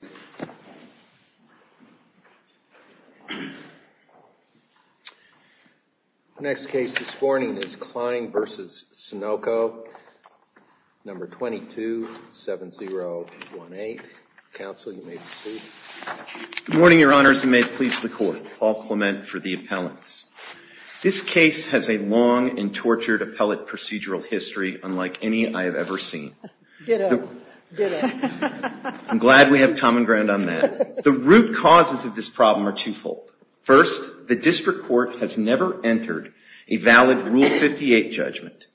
The next case this morning is Cline v. Sunoco, No. 227018. Counsel, you may proceed. Good morning, Your Honors, and may it please the Court. Paul Clement for the Appellants. This case has a long and tortured appellate procedural history unlike any I have ever seen. I'm glad we have common ground on that. The root causes of this problem are twofold. First, the District Court has never entered a valid Rule 58 judgment.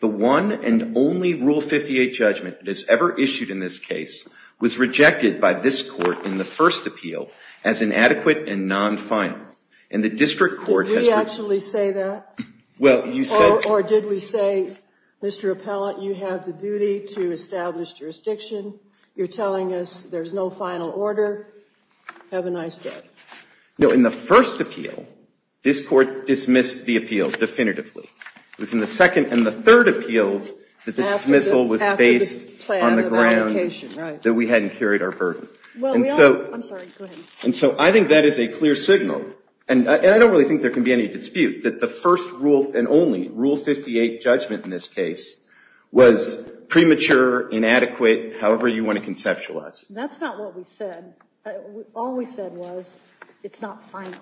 The one and only Rule 58 judgment that is ever issued in this case was rejected by this Court in the first appeal as inadequate and non-final. Did we actually say that? Or did we say, Mr. Appellant, you have the duty to establish jurisdiction, you're telling us there's no final order, have a nice day? No, in the first appeal, this Court dismissed the appeal definitively. It was in the second and the third appeals that the dismissal was based on the ground that we hadn't carried our burden. I'm sorry, go ahead. And so I think that is a clear signal, and I don't really think there can be any dispute that the first and only Rule 58 judgment in this case was premature, inadequate, however you want to conceptualize it. That's not what we said. All we said was it's not final.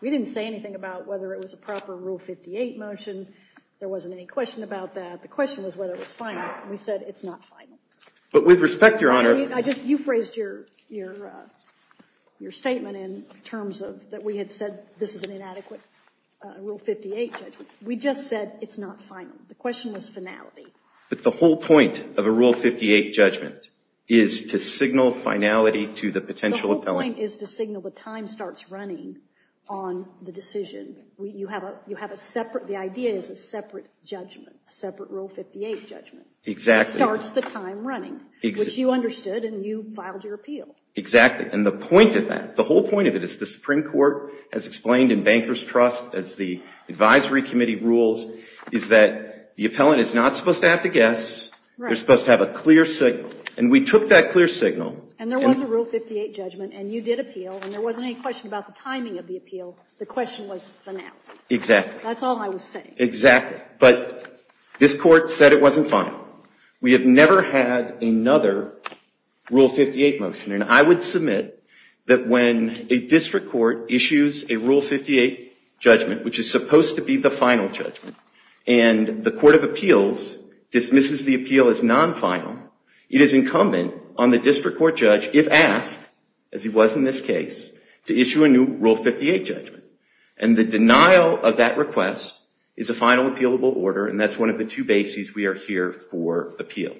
We didn't say anything about whether it was a proper Rule 58 motion. There wasn't any question about that. The question was whether it was final, and we said it's not final. But with respect, Your Honor. You phrased your statement in terms of that we had said this is an inadequate Rule 58 judgment. We just said it's not final. The question was finality. But the whole point of a Rule 58 judgment is to signal finality to the potential appellant. The whole point is to signal the time starts running on the decision. You have a separate, the idea is a separate judgment, a separate Rule 58 judgment. Exactly. That starts the time running, which you understood and you filed your appeal. Exactly. And the point of that, the whole point of it is the Supreme Court has explained in Banker's Trust, as the advisory committee rules, is that the appellant is not supposed to have to guess. Right. They're supposed to have a clear signal. And we took that clear signal. And there was a Rule 58 judgment, and you did appeal, and there wasn't any question about the timing of the appeal. The question was finality. Exactly. That's all I was saying. Exactly. But this Court said it wasn't final. We have never had another Rule 58 motion. And I would submit that when a district court issues a Rule 58 judgment, which is supposed to be the final judgment, and the Court of Appeals dismisses the appeal as non-final, it is incumbent on the district court judge, if asked, as it was in this case, to issue a new Rule 58 judgment. And the denial of that request is a final appealable order, and that's one of the two bases we are here for appeal.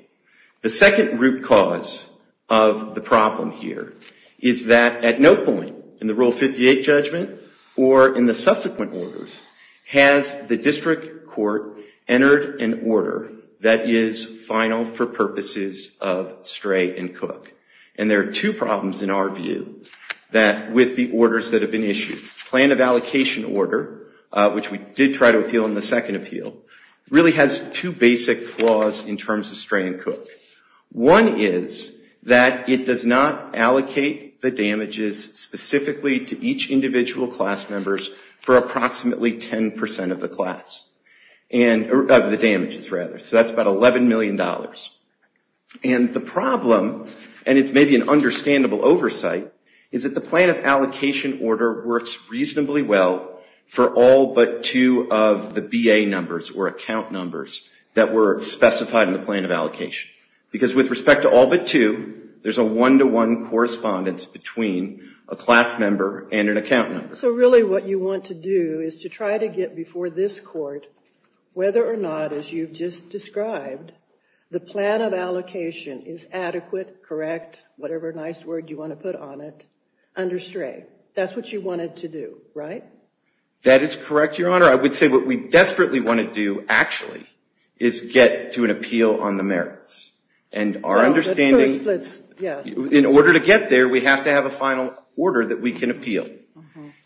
The second root cause of the problem here is that at no point in the Rule 58 judgment or in the subsequent orders has the district court entered an order that is final for purposes of Stray and Cook. And there are two problems in our view with the orders that have been issued. Plan of Allocation Order, which we did try to appeal in the second appeal, really has two basic flaws in terms of Stray and Cook. One is that it does not allocate the damages specifically to each individual class members for approximately 10% of the damages. So that's about $11 million. And the problem, and it's maybe an understandable oversight, is that the Plan of Allocation Order works reasonably well for all but two of the BA numbers, or account numbers, that were specified in the Plan of Allocation. Because with respect to all but two, there's a one-to-one correspondence between a class member and an account member. So really what you want to do is to try to get before this court, whether or not, as you've just described, the Plan of Allocation is adequate, correct, whatever nice word you want to put on it, under Stray. That's what you wanted to do, right? That is correct, Your Honor. I would say what we desperately want to do, actually, is get to an appeal on the merits. But first, let's, yeah. In order to get there, we have to have a final order that we can appeal.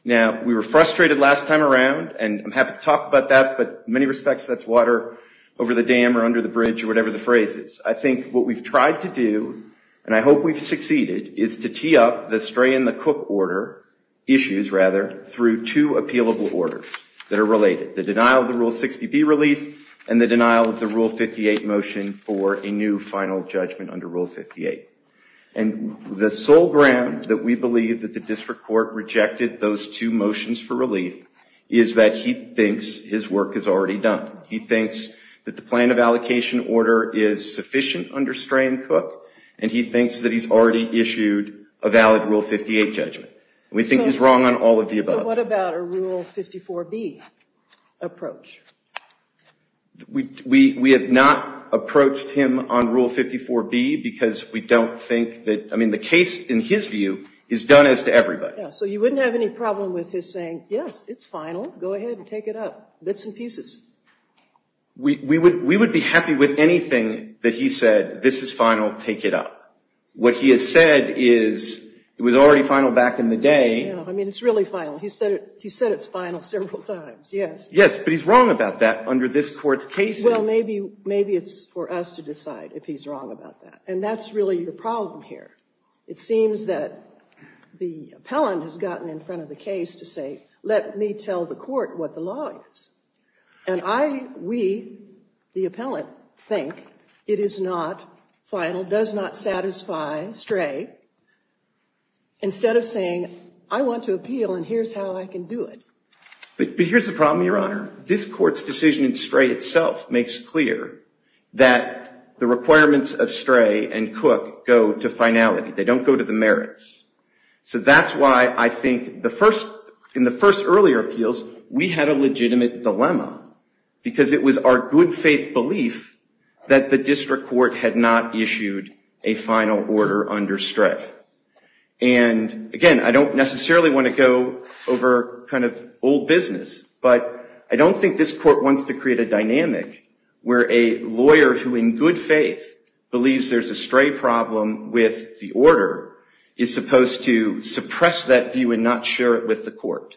Now, we were frustrated last time around, and I'm happy to talk about that, but in many respects, that's water over the dam, or under the bridge, or whatever the phrase is. I think what we've tried to do, and I hope we've succeeded, is to tee up the Stray and the Cook order issues, rather, through two appealable orders that are related. The denial of the Rule 60B relief, and the denial of the Rule 58 motion for a new final judgment under Rule 58. And the sole ground that we believe that the district court rejected those two motions for relief is that he thinks his work is already done. He thinks that the plan of allocation order is sufficient under Stray and Cook, and he thinks that he's already issued a valid Rule 58 judgment. We think he's wrong on all of the above. So what about a Rule 54B approach? We have not approached him on Rule 54B, because we don't think that, I mean, the case, in his view, is done as to everybody. So you wouldn't have any problem with his saying, yes, it's final. Go ahead and take it up, bits and pieces. We would be happy with anything that he said, this is final, take it up. What he has said is, it was already final back in the day. I mean, it's really final. He said it's final several times, yes. Yes, but he's wrong about that under this court's cases. Well, maybe it's for us to decide if he's wrong about that. And that's really the problem here. It seems that the appellant has gotten in front of the case to say, let me tell the court what the law is. And I, we, the appellant, think it is not final, does not satisfy Stray, instead of saying, I want to appeal, and here's how I can do it. But here's the problem, Your Honor. This court's decision in Stray itself makes clear that the requirements of Stray and Cook go to finality. They don't go to the merits. So that's why I think the first, in the first earlier appeals, we had a legitimate dilemma. Because it was our good faith belief that the district court had not issued a final order under Stray. And again, I don't necessarily want to go over kind of old business. But I don't think this court wants to create a dynamic where a lawyer who, in good faith, believes there's a Stray problem with the order, is supposed to suppress that view and not share it with the court.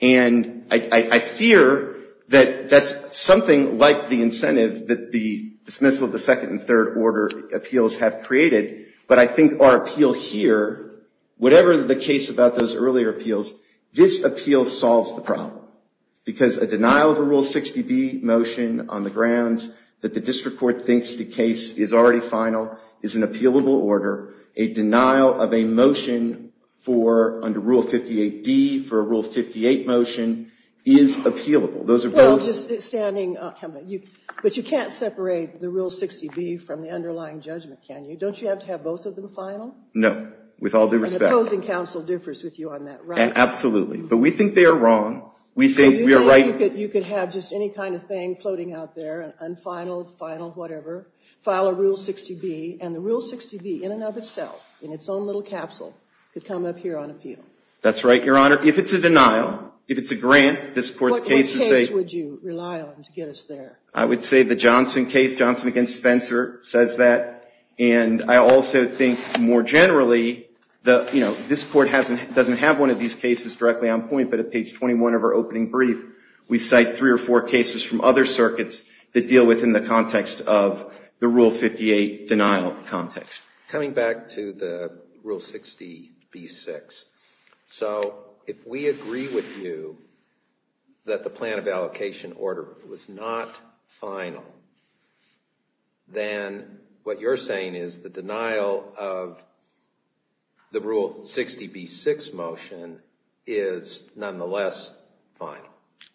And I fear that that's something like the incentive that the dismissal of the second and third order appeals have created. But I think our appeal here, whatever the case about those earlier appeals, this appeal solves the problem. Because a denial of a Rule 60B motion on the grounds that the district court thinks the case is already final is an appealable order. A denial of a motion for, under Rule 58D, for a Rule 58 motion is appealable. Those are both... But you can't separate the Rule 60B from the underlying judgment, can you? Don't you have to have both of them final? No, with all due respect. And the opposing counsel differs with you on that, right? Absolutely. But we think they are wrong. We think we are right. So you think you could have just any kind of thing floating out there, unfinal, final, whatever, file a Rule 60B, and the Rule 60B in and of itself, in its own little capsule, could come up here on appeal? That's right, Your Honor. If it's a denial, if it's a grant, this court's case is safe. What case would you rely on to get us there? I would say the Johnson case, Johnson against Spencer, says that. And I also think, more generally, this court doesn't have one of these cases directly on point, but at page 21 of our opening brief, we cite three or four cases from other circuits that deal within the context of the Rule 58 denial context. Coming back to the Rule 60B-6, so if we agree with you that the plan of allocation order was not final, then what you're saying is the denial of the Rule 60B-6 motion is nonetheless final.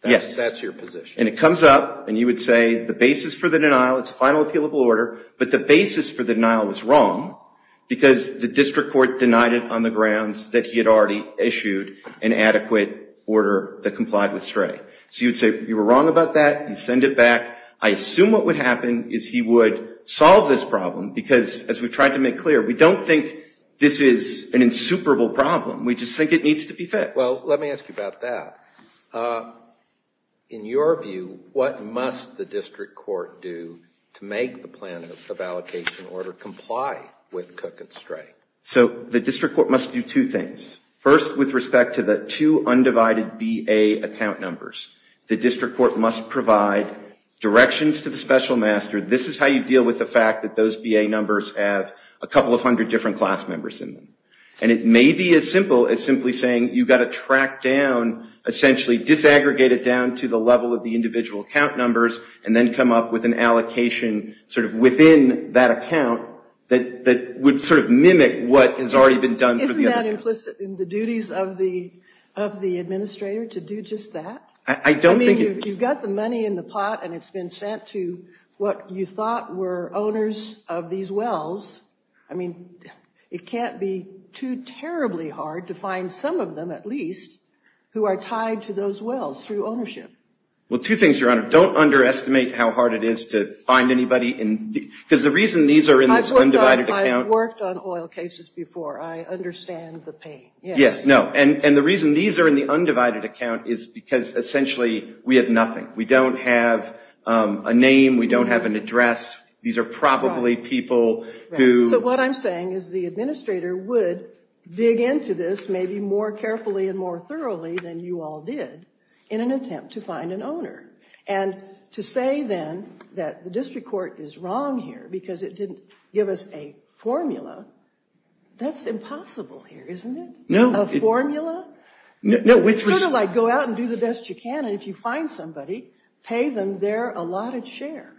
Yes. That's your position. And it comes up, and you would say the basis for the denial is final appealable order, but the basis for the denial was wrong because the district court denied it on the grounds that he had already issued an adequate order that complied with SRAE. So you would say you were wrong about that. You send it back. I assume what would happen is he would solve this problem because, as we tried to make clear, we don't think this is an insuperable problem. We just think it needs to be fixed. Well, let me ask you about that. In your view, what must the district court do to make the plan of allocation order comply with Cook and SRAE? So the district court must do two things. First, with respect to the two undivided BA account numbers, the district court must provide directions to the special master. This is how you deal with the fact that those BA numbers have a couple of hundred different class members in them. And it may be as simple as simply saying you've got to track down, essentially disaggregate it down to the level of the individual account numbers and then come up with an allocation sort of within that account that would sort of mimic what has already been done. Isn't that implicit in the duties of the administrator to do just that? I mean, you've got the money in the pot, and it's been sent to what you thought were owners of these wells. I mean, it can't be too terribly hard to find some of them, at least, who are tied to those wells through ownership. Well, two things, Your Honor. Don't underestimate how hard it is to find anybody. Because the reason these are in this undivided account. I've worked on oil cases before. I understand the pain. Yes. No. And the reason these are in the undivided account is because, essentially, we have nothing. We don't have a name. We don't have an address. These are probably people who. Right. So what I'm saying is the administrator would dig into this maybe more carefully and more thoroughly than you all did in an attempt to find an owner. And to say, then, that the district court is wrong here because it didn't give us a formula, that's impossible here, isn't it? No. A formula? No. Sort of like go out and do the best you can, and if you find somebody, pay them their allotted share.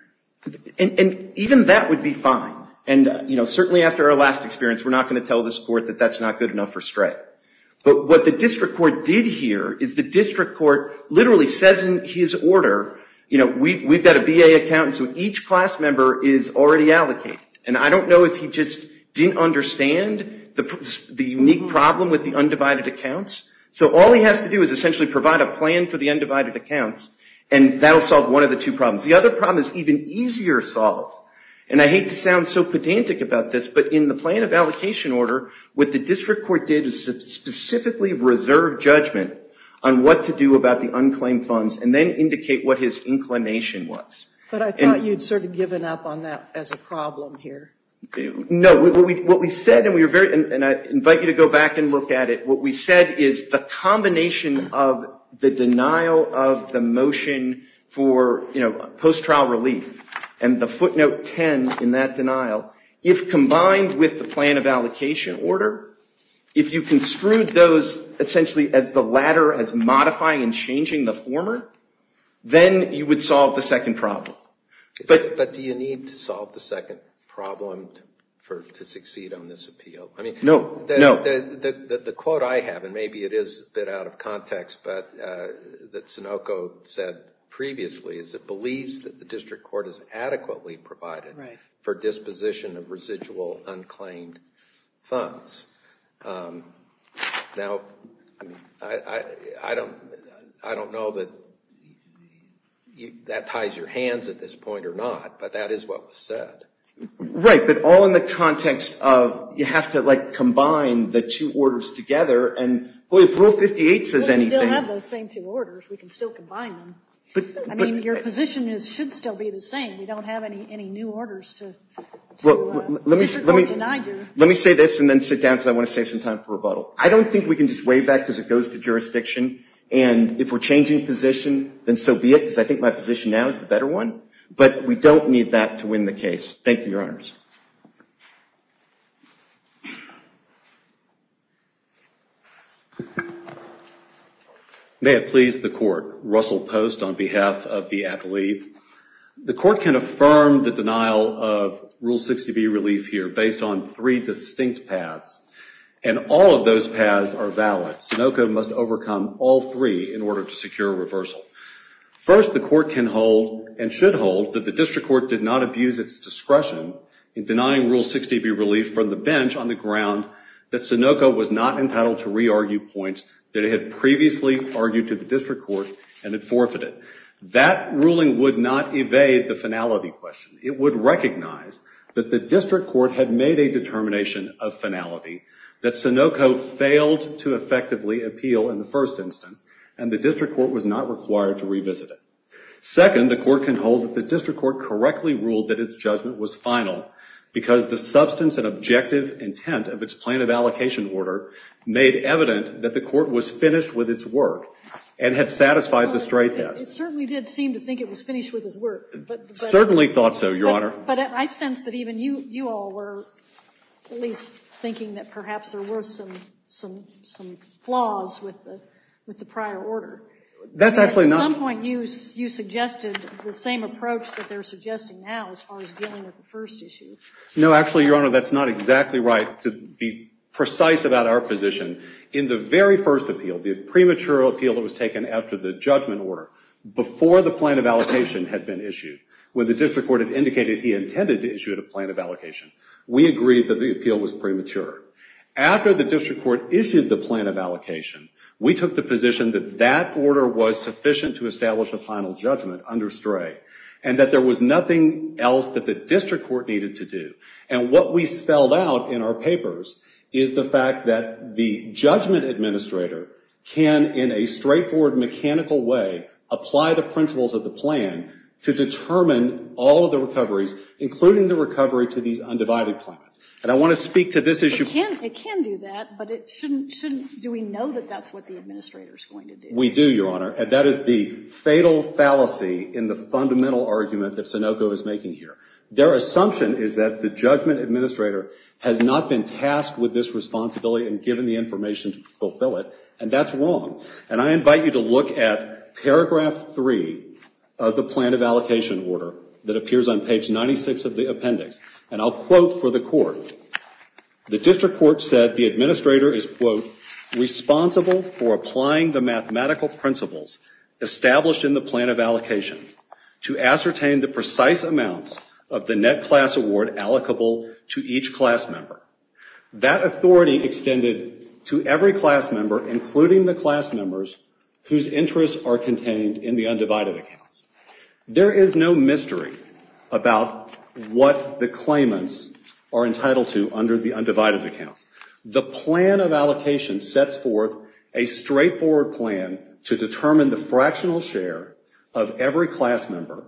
And even that would be fine. And, you know, certainly after our last experience, we're not going to tell this court that that's not good enough for Stratt. But what the district court did here is the district court literally says in his order, you know, we've got a BA account, and so each class member is already allocated. And I don't know if he just didn't understand the unique problem with the undivided accounts. So all he has to do is essentially provide a plan for the undivided accounts, and that'll solve one of the two problems. The other problem is even easier solved. And I hate to sound so pedantic about this, but in the plan of allocation order, what the district court did is specifically reserve judgment on what to do about the unclaimed funds, and then indicate what his inclination was. But I thought you'd sort of given up on that as a problem here. No. What we said, and I invite you to go back and look at it, what we said is the combination of the denial of the motion for, you know, post-trial relief, and the footnote 10 in that denial, if combined with the plan of allocation order, if you construed those essentially as the latter as modifying and changing the former, then you would solve the second problem. But do you need to solve the second problem to succeed on this appeal? No. The quote I have, and maybe it is a bit out of context, but that Sunoco said previously, is it believes that the district court has adequately provided for disposition of residual unclaimed funds. Now, I don't know that that ties your hands at this point or not, but that is what was said. Right. But all in the context of you have to, like, combine the two orders together, and if Rule 58 says anything. Well, we still have those same two orders. We can still combine them. I mean, your position should still be the same. We don't have any new orders to the district court than I do. Let me say this and then sit down because I want to save some time for rebuttal. I don't think we can just waive that because it goes to jurisdiction, and if we're changing position, then so be it, because I think my position now is the better one. But we don't need that to win the case. Thank you, Your Honors. May it please the court. Russell Post on behalf of the athlete. The court can affirm the denial of Rule 60B relief here based on three distinct paths, and all of those paths are valid. Sunoco must overcome all three in order to secure reversal. First, the court can hold and should hold that the district court did not abuse its discretion in denying Rule 60B relief from the bench on the ground that Sunoco was not entitled to re-argue points that it had previously argued to the district court and had forfeited. That ruling would not evade the finality question. It would recognize that the district court had made a determination of finality, that Sunoco failed to effectively appeal in the first instance, and the district court was not required to revisit it. Second, the court can hold that the district court correctly ruled that its judgment was final because the substance and objective intent of its plan of allocation order made evident that the court was finished with its work and had satisfied the stray test. It certainly did seem to think it was finished with its work. Certainly thought so, Your Honor. But I sense that even you all were at least thinking that perhaps there were some flaws with the prior order. That's actually not true. At some point, you suggested the same approach that they're suggesting now as far as dealing with the first issue. No, actually, Your Honor, that's not exactly right. To be precise about our position, in the very first appeal, the premature appeal that was taken after the judgment order, before the plan of allocation had been issued, when the district court had indicated he intended to issue a plan of allocation, we agreed that the appeal was premature. After the district court issued the plan of allocation, we took the position that that order was sufficient to establish a final judgment under stray and that there was nothing else that the district court needed to do. And what we spelled out in our papers is the fact that the judgment administrator can, in a straightforward mechanical way, apply the principles of the plan to determine all of the recoveries, including the recovery to these undivided plans. And I want to speak to this issue. It can do that, but it shouldn't. Do we know that that's what the administrator is going to do? We do, Your Honor, and that is the fatal fallacy in the fundamental argument that Sunoco is making here. Their assumption is that the judgment administrator has not been tasked with this responsibility and given the information to fulfill it, and that's wrong. And I invite you to look at paragraph 3 of the plan of allocation order that appears on page 96 of the appendix. And I'll quote for the court. The district court said the administrator is, quote, responsible for applying the mathematical principles established in the plan of allocation to ascertain the precise amounts of the net class award allocable to each class member. That authority extended to every class member, including the class members, whose interests are contained in the undivided accounts. There is no mystery about what the claimants are entitled to under the undivided accounts. The plan of allocation sets forth a straightforward plan to determine the fractional share of every class member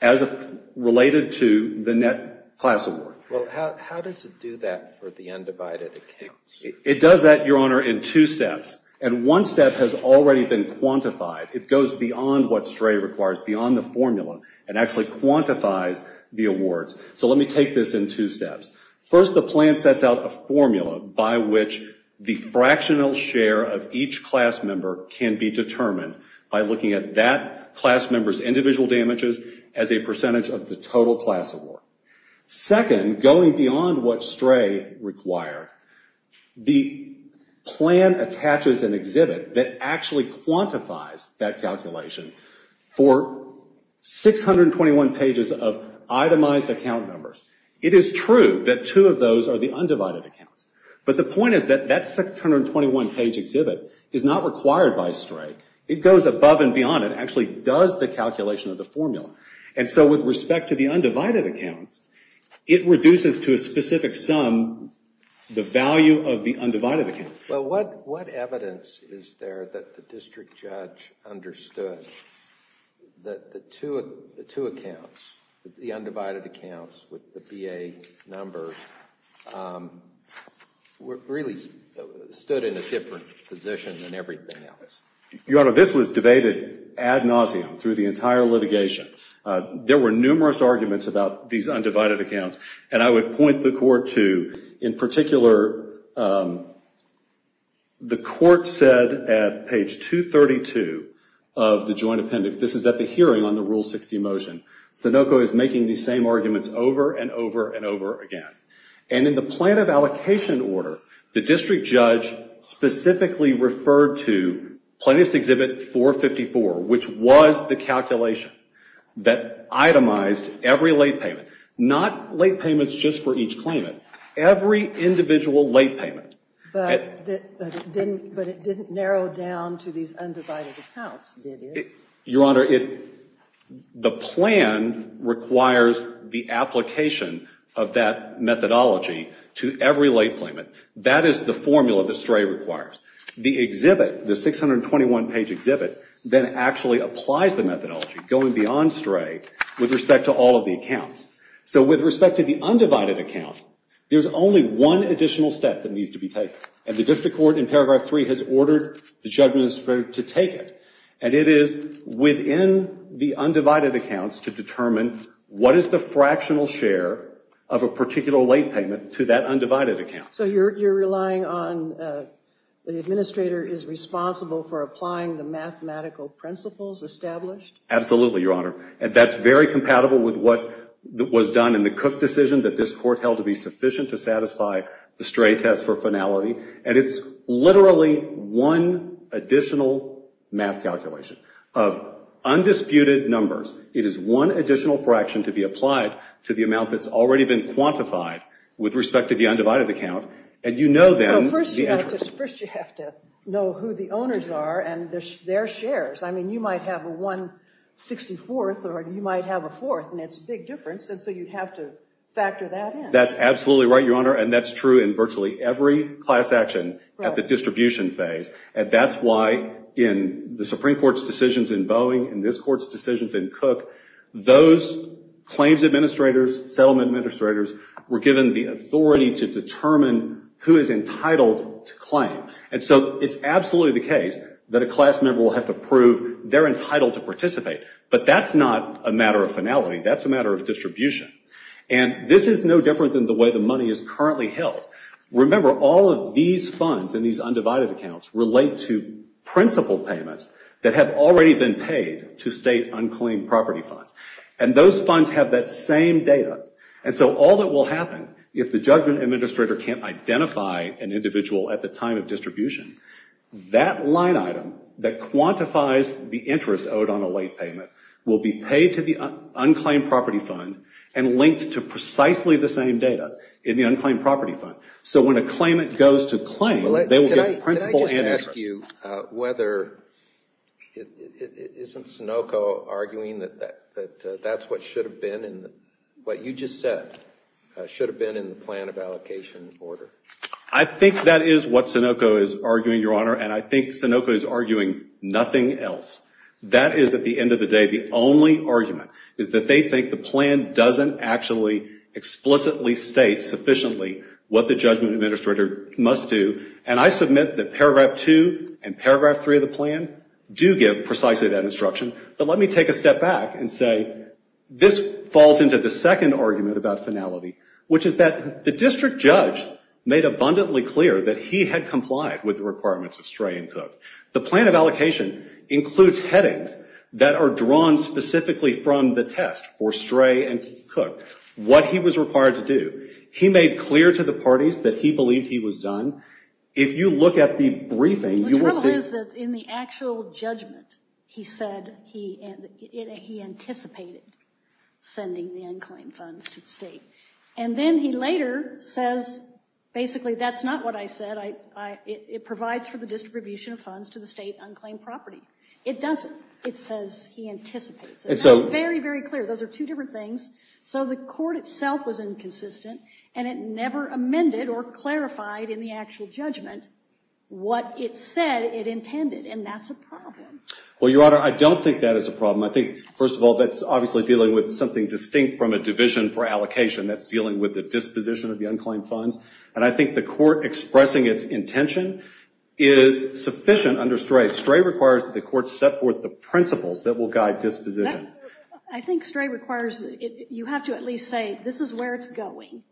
as related to the net class award. Well, how does it do that for the undivided accounts? It does that, Your Honor, in two steps. And one step has already been quantified. It goes beyond what STRAE requires, beyond the formula, and actually quantifies the awards. So let me take this in two steps. First, the plan sets out a formula by which the fractional share of each class member can be determined by looking at that class member's individual damages as a percentage of the total class award. Second, going beyond what STRAE required, the plan attaches an exhibit that actually quantifies that calculation for 621 pages of itemized account numbers. It is true that two of those are the undivided accounts, but the point is that that 621-page exhibit is not required by STRAE. It goes above and beyond. It actually does the calculation of the formula. And so with respect to the undivided accounts, it reduces to a specific sum the value of the undivided accounts. Well, what evidence is there that the district judge understood that the two accounts, the undivided accounts with the BA number, really stood in a different position than everything else? Your Honor, this was debated ad nauseam through the entire litigation. There were numerous arguments about these undivided accounts, and I would point the court to, in particular, the court said at page 232 of the joint appendix, this is at the hearing on the Rule 60 motion, Sunoco is making these same arguments over and over and over again. And in the plan of allocation order, the district judge specifically referred to plaintiff's exhibit 454, which was the calculation that itemized every late payment, not late payments just for each claimant, every individual late payment. But it didn't narrow down to these undivided accounts, did it? Your Honor, the plan requires the application of that methodology to every late payment. That is the formula that STRAE requires. The exhibit, the 621-page exhibit, then actually applies the methodology, going beyond STRAE, with respect to all of the accounts. So with respect to the undivided account, there's only one additional step that needs to be taken, and the district court in paragraph 3 has ordered the judge to take it. And it is within the undivided accounts to determine what is the fractional share of a particular late payment to that undivided account. So you're relying on the administrator is responsible for applying the mathematical principles established? Absolutely, Your Honor. That's very compatible with what was done in the Cook decision that this court held to be sufficient to satisfy the STRAE test for finality. And it's literally one additional math calculation of undisputed numbers. It is one additional fraction to be applied to the amount that's already been quantified with respect to the undivided account. And you know then the interest. No, first you have to know who the owners are and their shares. I mean, you might have a 164th or you might have a 4th, and it's a big difference, and so you'd have to factor that in. That's absolutely right, Your Honor. And that's true in virtually every class action at the distribution phase. And that's why in the Supreme Court's decisions in Boeing, in this court's decisions in Cook, those claims administrators, settlement administrators, were given the authority to determine who is entitled to claim. And so it's absolutely the case that a class member will have to prove they're entitled to participate. But that's not a matter of finality. That's a matter of distribution. And this is no different than the way the money is currently held. Remember, all of these funds in these undivided accounts relate to principal payments that have already been paid to state unclaimed property funds. And those funds have that same data. And so all that will happen if the judgment administrator can't identify an individual at the time of distribution, that line item that quantifies the interest owed on a late payment will be paid to the unclaimed property fund and linked to precisely the same data in the unclaimed property fund. So when a claimant goes to claim, they will get principal and interest. Can I just ask you whether, isn't Sunoco arguing that that's what should have been in the, what you just said should have been in the plan of allocation order? I think that is what Sunoco is arguing, Your Honor. And I think Sunoco is arguing nothing else. That is, at the end of the day, the only argument, is that they think the plan doesn't actually explicitly state sufficiently what the judgment administrator must do. And I submit that Paragraph 2 and Paragraph 3 of the plan do give precisely that instruction. But let me take a step back and say this falls into the second argument about finality, which is that the district judge made abundantly clear that he had complied with the requirements of Stray and Cook. The plan of allocation includes headings that are drawn specifically from the test for Stray and Cook, what he was required to do. He made clear to the parties that he believed he was done. If you look at the briefing, you will see. The trouble is that in the actual judgment, he said he anticipated sending the unclaimed funds to the state. And then he later says, basically, that's not what I said. It provides for the distribution of funds to the state unclaimed property. It doesn't. It says he anticipates. It's very, very clear. Those are two different things. So the court itself was inconsistent, and it never amended or clarified in the actual judgment what it said it intended. And that's a problem. Well, Your Honor, I don't think that is a problem. I think, first of all, that's obviously dealing with something distinct from a division for allocation. That's dealing with the disposition of the unclaimed funds. And I think the court expressing its intention is sufficient under Stray. Stray requires that the court set forth the principles that will guide disposition. I think Stray requires you have to at least say this is where it's going.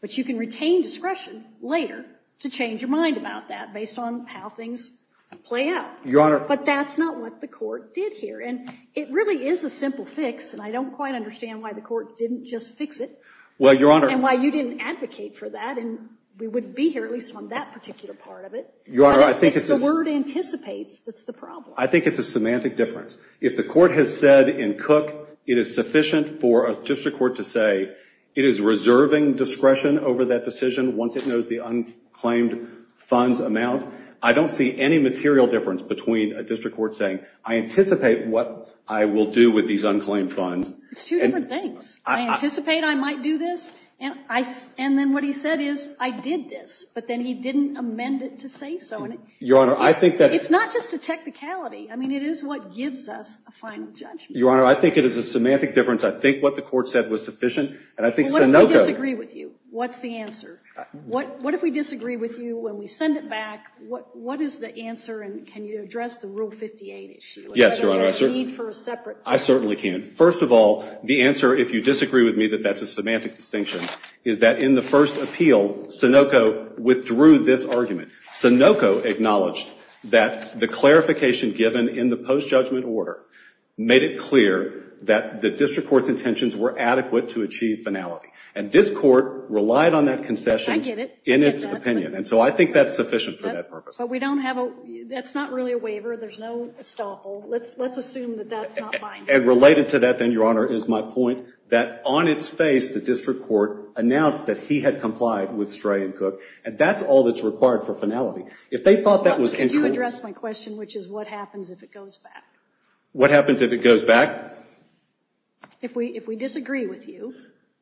But you can retain discretion later to change your mind about that based on how things play out. Your Honor. But that's not what the court did here. And it really is a simple fix, and I don't quite understand why the court didn't just fix it. Well, Your Honor. And why you didn't advocate for that. And we would be here at least on that particular part of it. Your Honor, I think it's just. If the word anticipates, that's the problem. I think it's a semantic difference. If the court has said in Cook it is sufficient for a district court to say it is reserving discretion over that decision once it knows the unclaimed funds amount, I don't see any material difference between a district court saying I anticipate what I will do with these unclaimed funds. It's two different things. I anticipate I might do this. And then what he said is I did this. But then he didn't amend it to say so. Your Honor, I think that. It's not just a technicality. I mean, it is what gives us a final judgment. Your Honor, I think it is a semantic difference. I think what the court said was sufficient. And I think Sunoco. What if we disagree with you? What's the answer? What if we disagree with you and we send it back? What is the answer? And can you address the Rule 58 issue? Yes, Your Honor. I don't need it for a separate. I certainly can. First of all, the answer, if you disagree with me, that that's a semantic distinction, is that in the first appeal, Sunoco withdrew this argument. Sunoco acknowledged that the clarification given in the post-judgment order made it clear that the district court's intentions were adequate to achieve finality. And this court relied on that concession. I get it. In its opinion. And so I think that's sufficient for that purpose. But we don't have a, that's not really a waiver. There's no estoppel. Let's assume that that's not binding. And related to that then, Your Honor, is my point that on its face, the district court announced that he had complied with Stray and Cook. And that's all that's required for finality. If they thought that was incorrect. Can you address my question, which is what happens if it goes back? What happens if it goes back? If we disagree with you,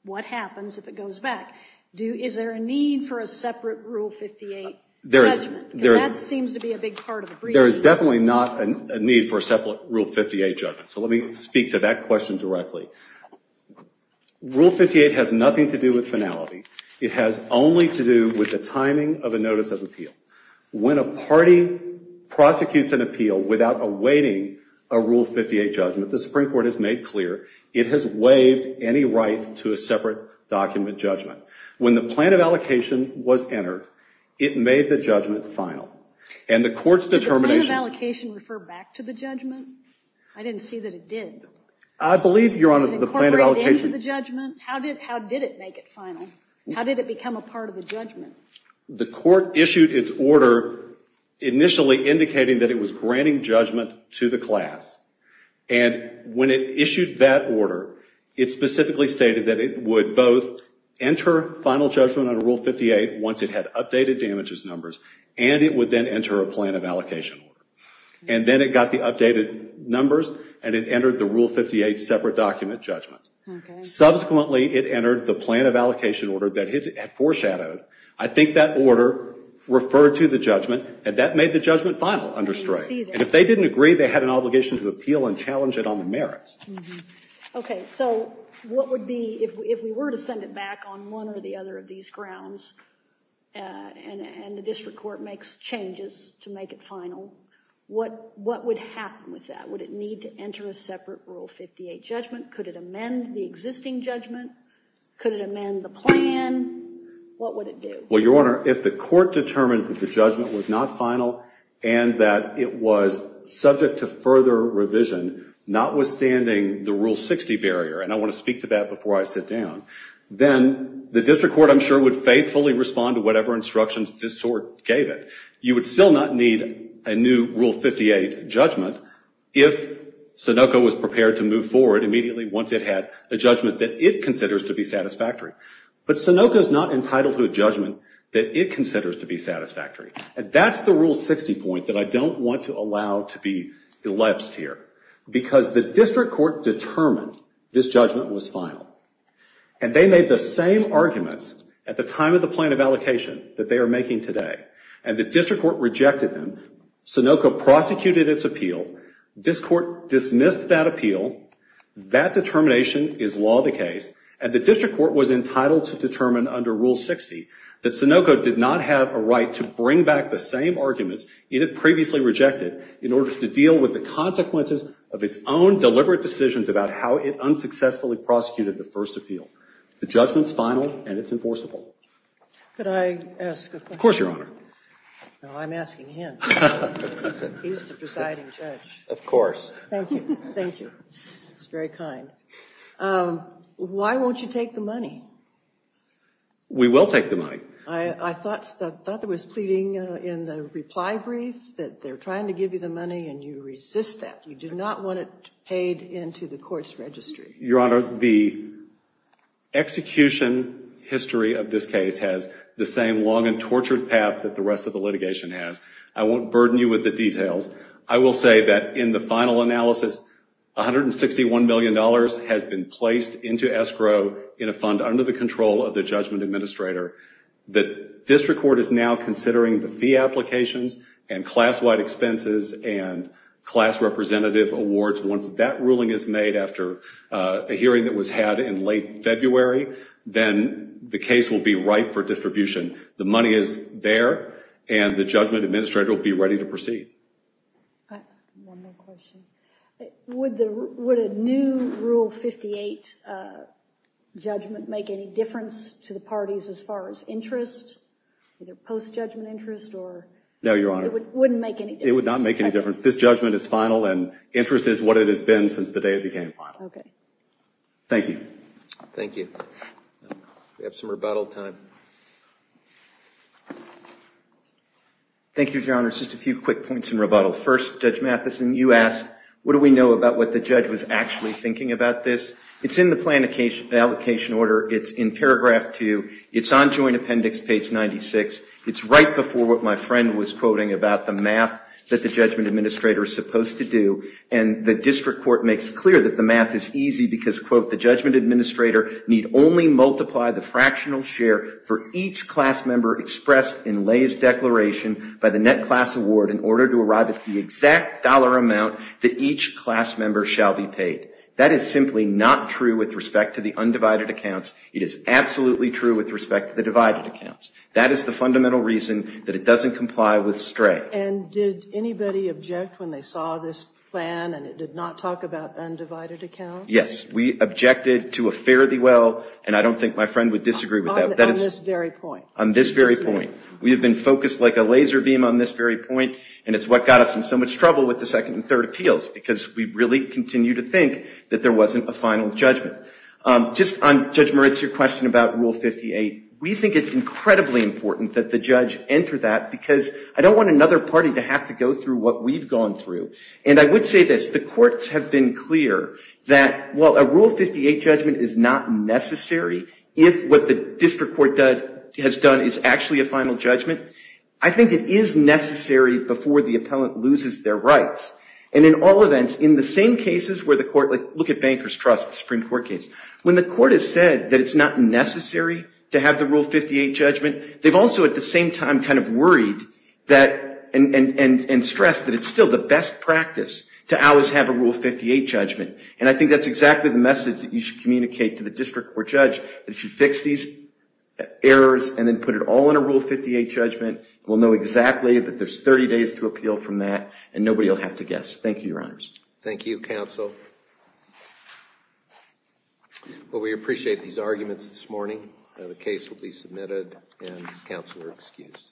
what happens if it goes back? Is there a need for a separate Rule 58 judgment? Because that seems to be a big part of the brief. There is definitely not a need for a separate Rule 58 judgment. So let me speak to that question directly. Rule 58 has nothing to do with finality. It has only to do with the timing of a notice of appeal. When a party prosecutes an appeal without awaiting a Rule 58 judgment, the Supreme Court has made clear it has waived any right to a separate document judgment. When the plan of allocation was entered, it made the judgment final. And the court's determination... Did the plan of allocation refer back to the judgment? I didn't see that it did. I believe, Your Honor, the plan of allocation... Did the court bring it into the judgment? How did it make it final? How did it become a part of the judgment? The court issued its order initially indicating that it was granting judgment to the class. And when it issued that order, it specifically stated that it would both enter final judgment under Rule 58 once it had updated damages numbers, and it would then enter a plan of allocation order. And then it got the updated numbers, and it entered the Rule 58 separate document judgment. Okay. Subsequently, it entered the plan of allocation order that it had foreshadowed. I think that order referred to the judgment, and that made the judgment final under strike. I didn't see that. And if they didn't agree, they had an obligation to appeal and challenge it on the merits. Okay. So what would be... If we were to send it back on one or the other of these grounds, and the district court makes changes to make it final, what would happen with that? Would it need to enter a separate Rule 58 judgment? Could it amend the existing judgment? Could it amend the plan? What would it do? Well, Your Honor, if the court determined that the judgment was not final and that it was subject to further revision, notwithstanding the Rule 60 barrier, and I want to speak to that before I sit down, then the district court, I'm sure, would faithfully respond to whatever instructions this court gave it. You would still not need a new Rule 58 judgment if Sunoco was prepared to move forward immediately once it had a judgment that it considers to be satisfactory. But Sunoco is not entitled to a judgment that it considers to be satisfactory. And that's the Rule 60 point that I don't want to allow to be elapsed here, because the district court determined this judgment was final. And they made the same arguments at the time of the plan of allocation that they are making today. And the district court rejected them. Sunoco prosecuted its appeal. This court dismissed that appeal. That determination is law of the case. And the district court was entitled to determine under Rule 60 that Sunoco did not have a right to bring back the same arguments it had previously rejected in order to deal with the consequences of its own deliberate decisions about how it unsuccessfully prosecuted the first appeal. The judgment's final, and it's enforceable. Could I ask a question? Of course, Your Honor. No, I'm asking him. He's the presiding judge. Of course. Thank you. Thank you. That's very kind. Why won't you take the money? We will take the money. I thought there was pleading in the reply brief that they're trying to give you the money, and you resist that. You do not want it paid into the court's registry. Your Honor, the execution history of this case has the same long and tortured path that the rest of the litigation has. I won't burden you with the details. I will say that in the final analysis, $161 million has been placed into escrow in a fund under the control of the judgment administrator. The district court is now considering the fee applications and class-wide expenses and class representative awards. Once that ruling is made after a hearing that was had in late February, then the case will be ripe for distribution. The money is there, and the judgment administrator will be ready to proceed. One more question. Would a new Rule 58 judgment make any difference to the parties as far as interest, either post-judgment interest? No, Your Honor. It wouldn't make any difference? It would not make any difference. This judgment is final, and interest is what it has been since the day it became final. Okay. Thank you. Thank you. We have some rebuttal time. Thank you, Your Honor. Just a few quick points in rebuttal. First, Judge Matheson, you asked, what do we know about what the judge was actually thinking about this? It's in the plan allocation order. It's in paragraph 2. It's on joint appendix page 96. It's right before what my friend was quoting about the math that the judgment administrator is supposed to do, and the district court makes clear that the math is easy because, quote, for each class member expressed in lay's declaration by the net class award in order to arrive at the exact dollar amount that each class member shall be paid. That is simply not true with respect to the undivided accounts. It is absolutely true with respect to the divided accounts. That is the fundamental reason that it doesn't comply with STRAE. And did anybody object when they saw this plan and it did not talk about undivided accounts? Yes. We objected to a fairly well, and I don't think my friend would disagree with that. On this very point. On this very point. We have been focused like a laser beam on this very point, and it's what got us in so much trouble with the second and third appeals because we really continue to think that there wasn't a final judgment. Just on, Judge Moritz, your question about Rule 58, we think it's incredibly important that the judge enter that because I don't want another party to have to go through what we've gone through. And I would say this. The courts have been clear that while a Rule 58 judgment is not necessary, if what the district court has done is actually a final judgment, I think it is necessary before the appellant loses their rights. And in all events, in the same cases where the court, like look at Banker's Trust Supreme Court case, when the court has said that it's not necessary to have the Rule 58 judgment, they've also at the same time kind of worried and stressed that it's still the best practice to always have a Rule 58 judgment. And I think that's exactly the message that you should communicate to the district court judge that you fix these errors and then put it all in a Rule 58 judgment. We'll know exactly that there's 30 days to appeal from that, and nobody will have to guess. Thank you, Your Honors. Thank you, Counsel. Well, we appreciate these arguments this morning. The case will be submitted and counsel are excused.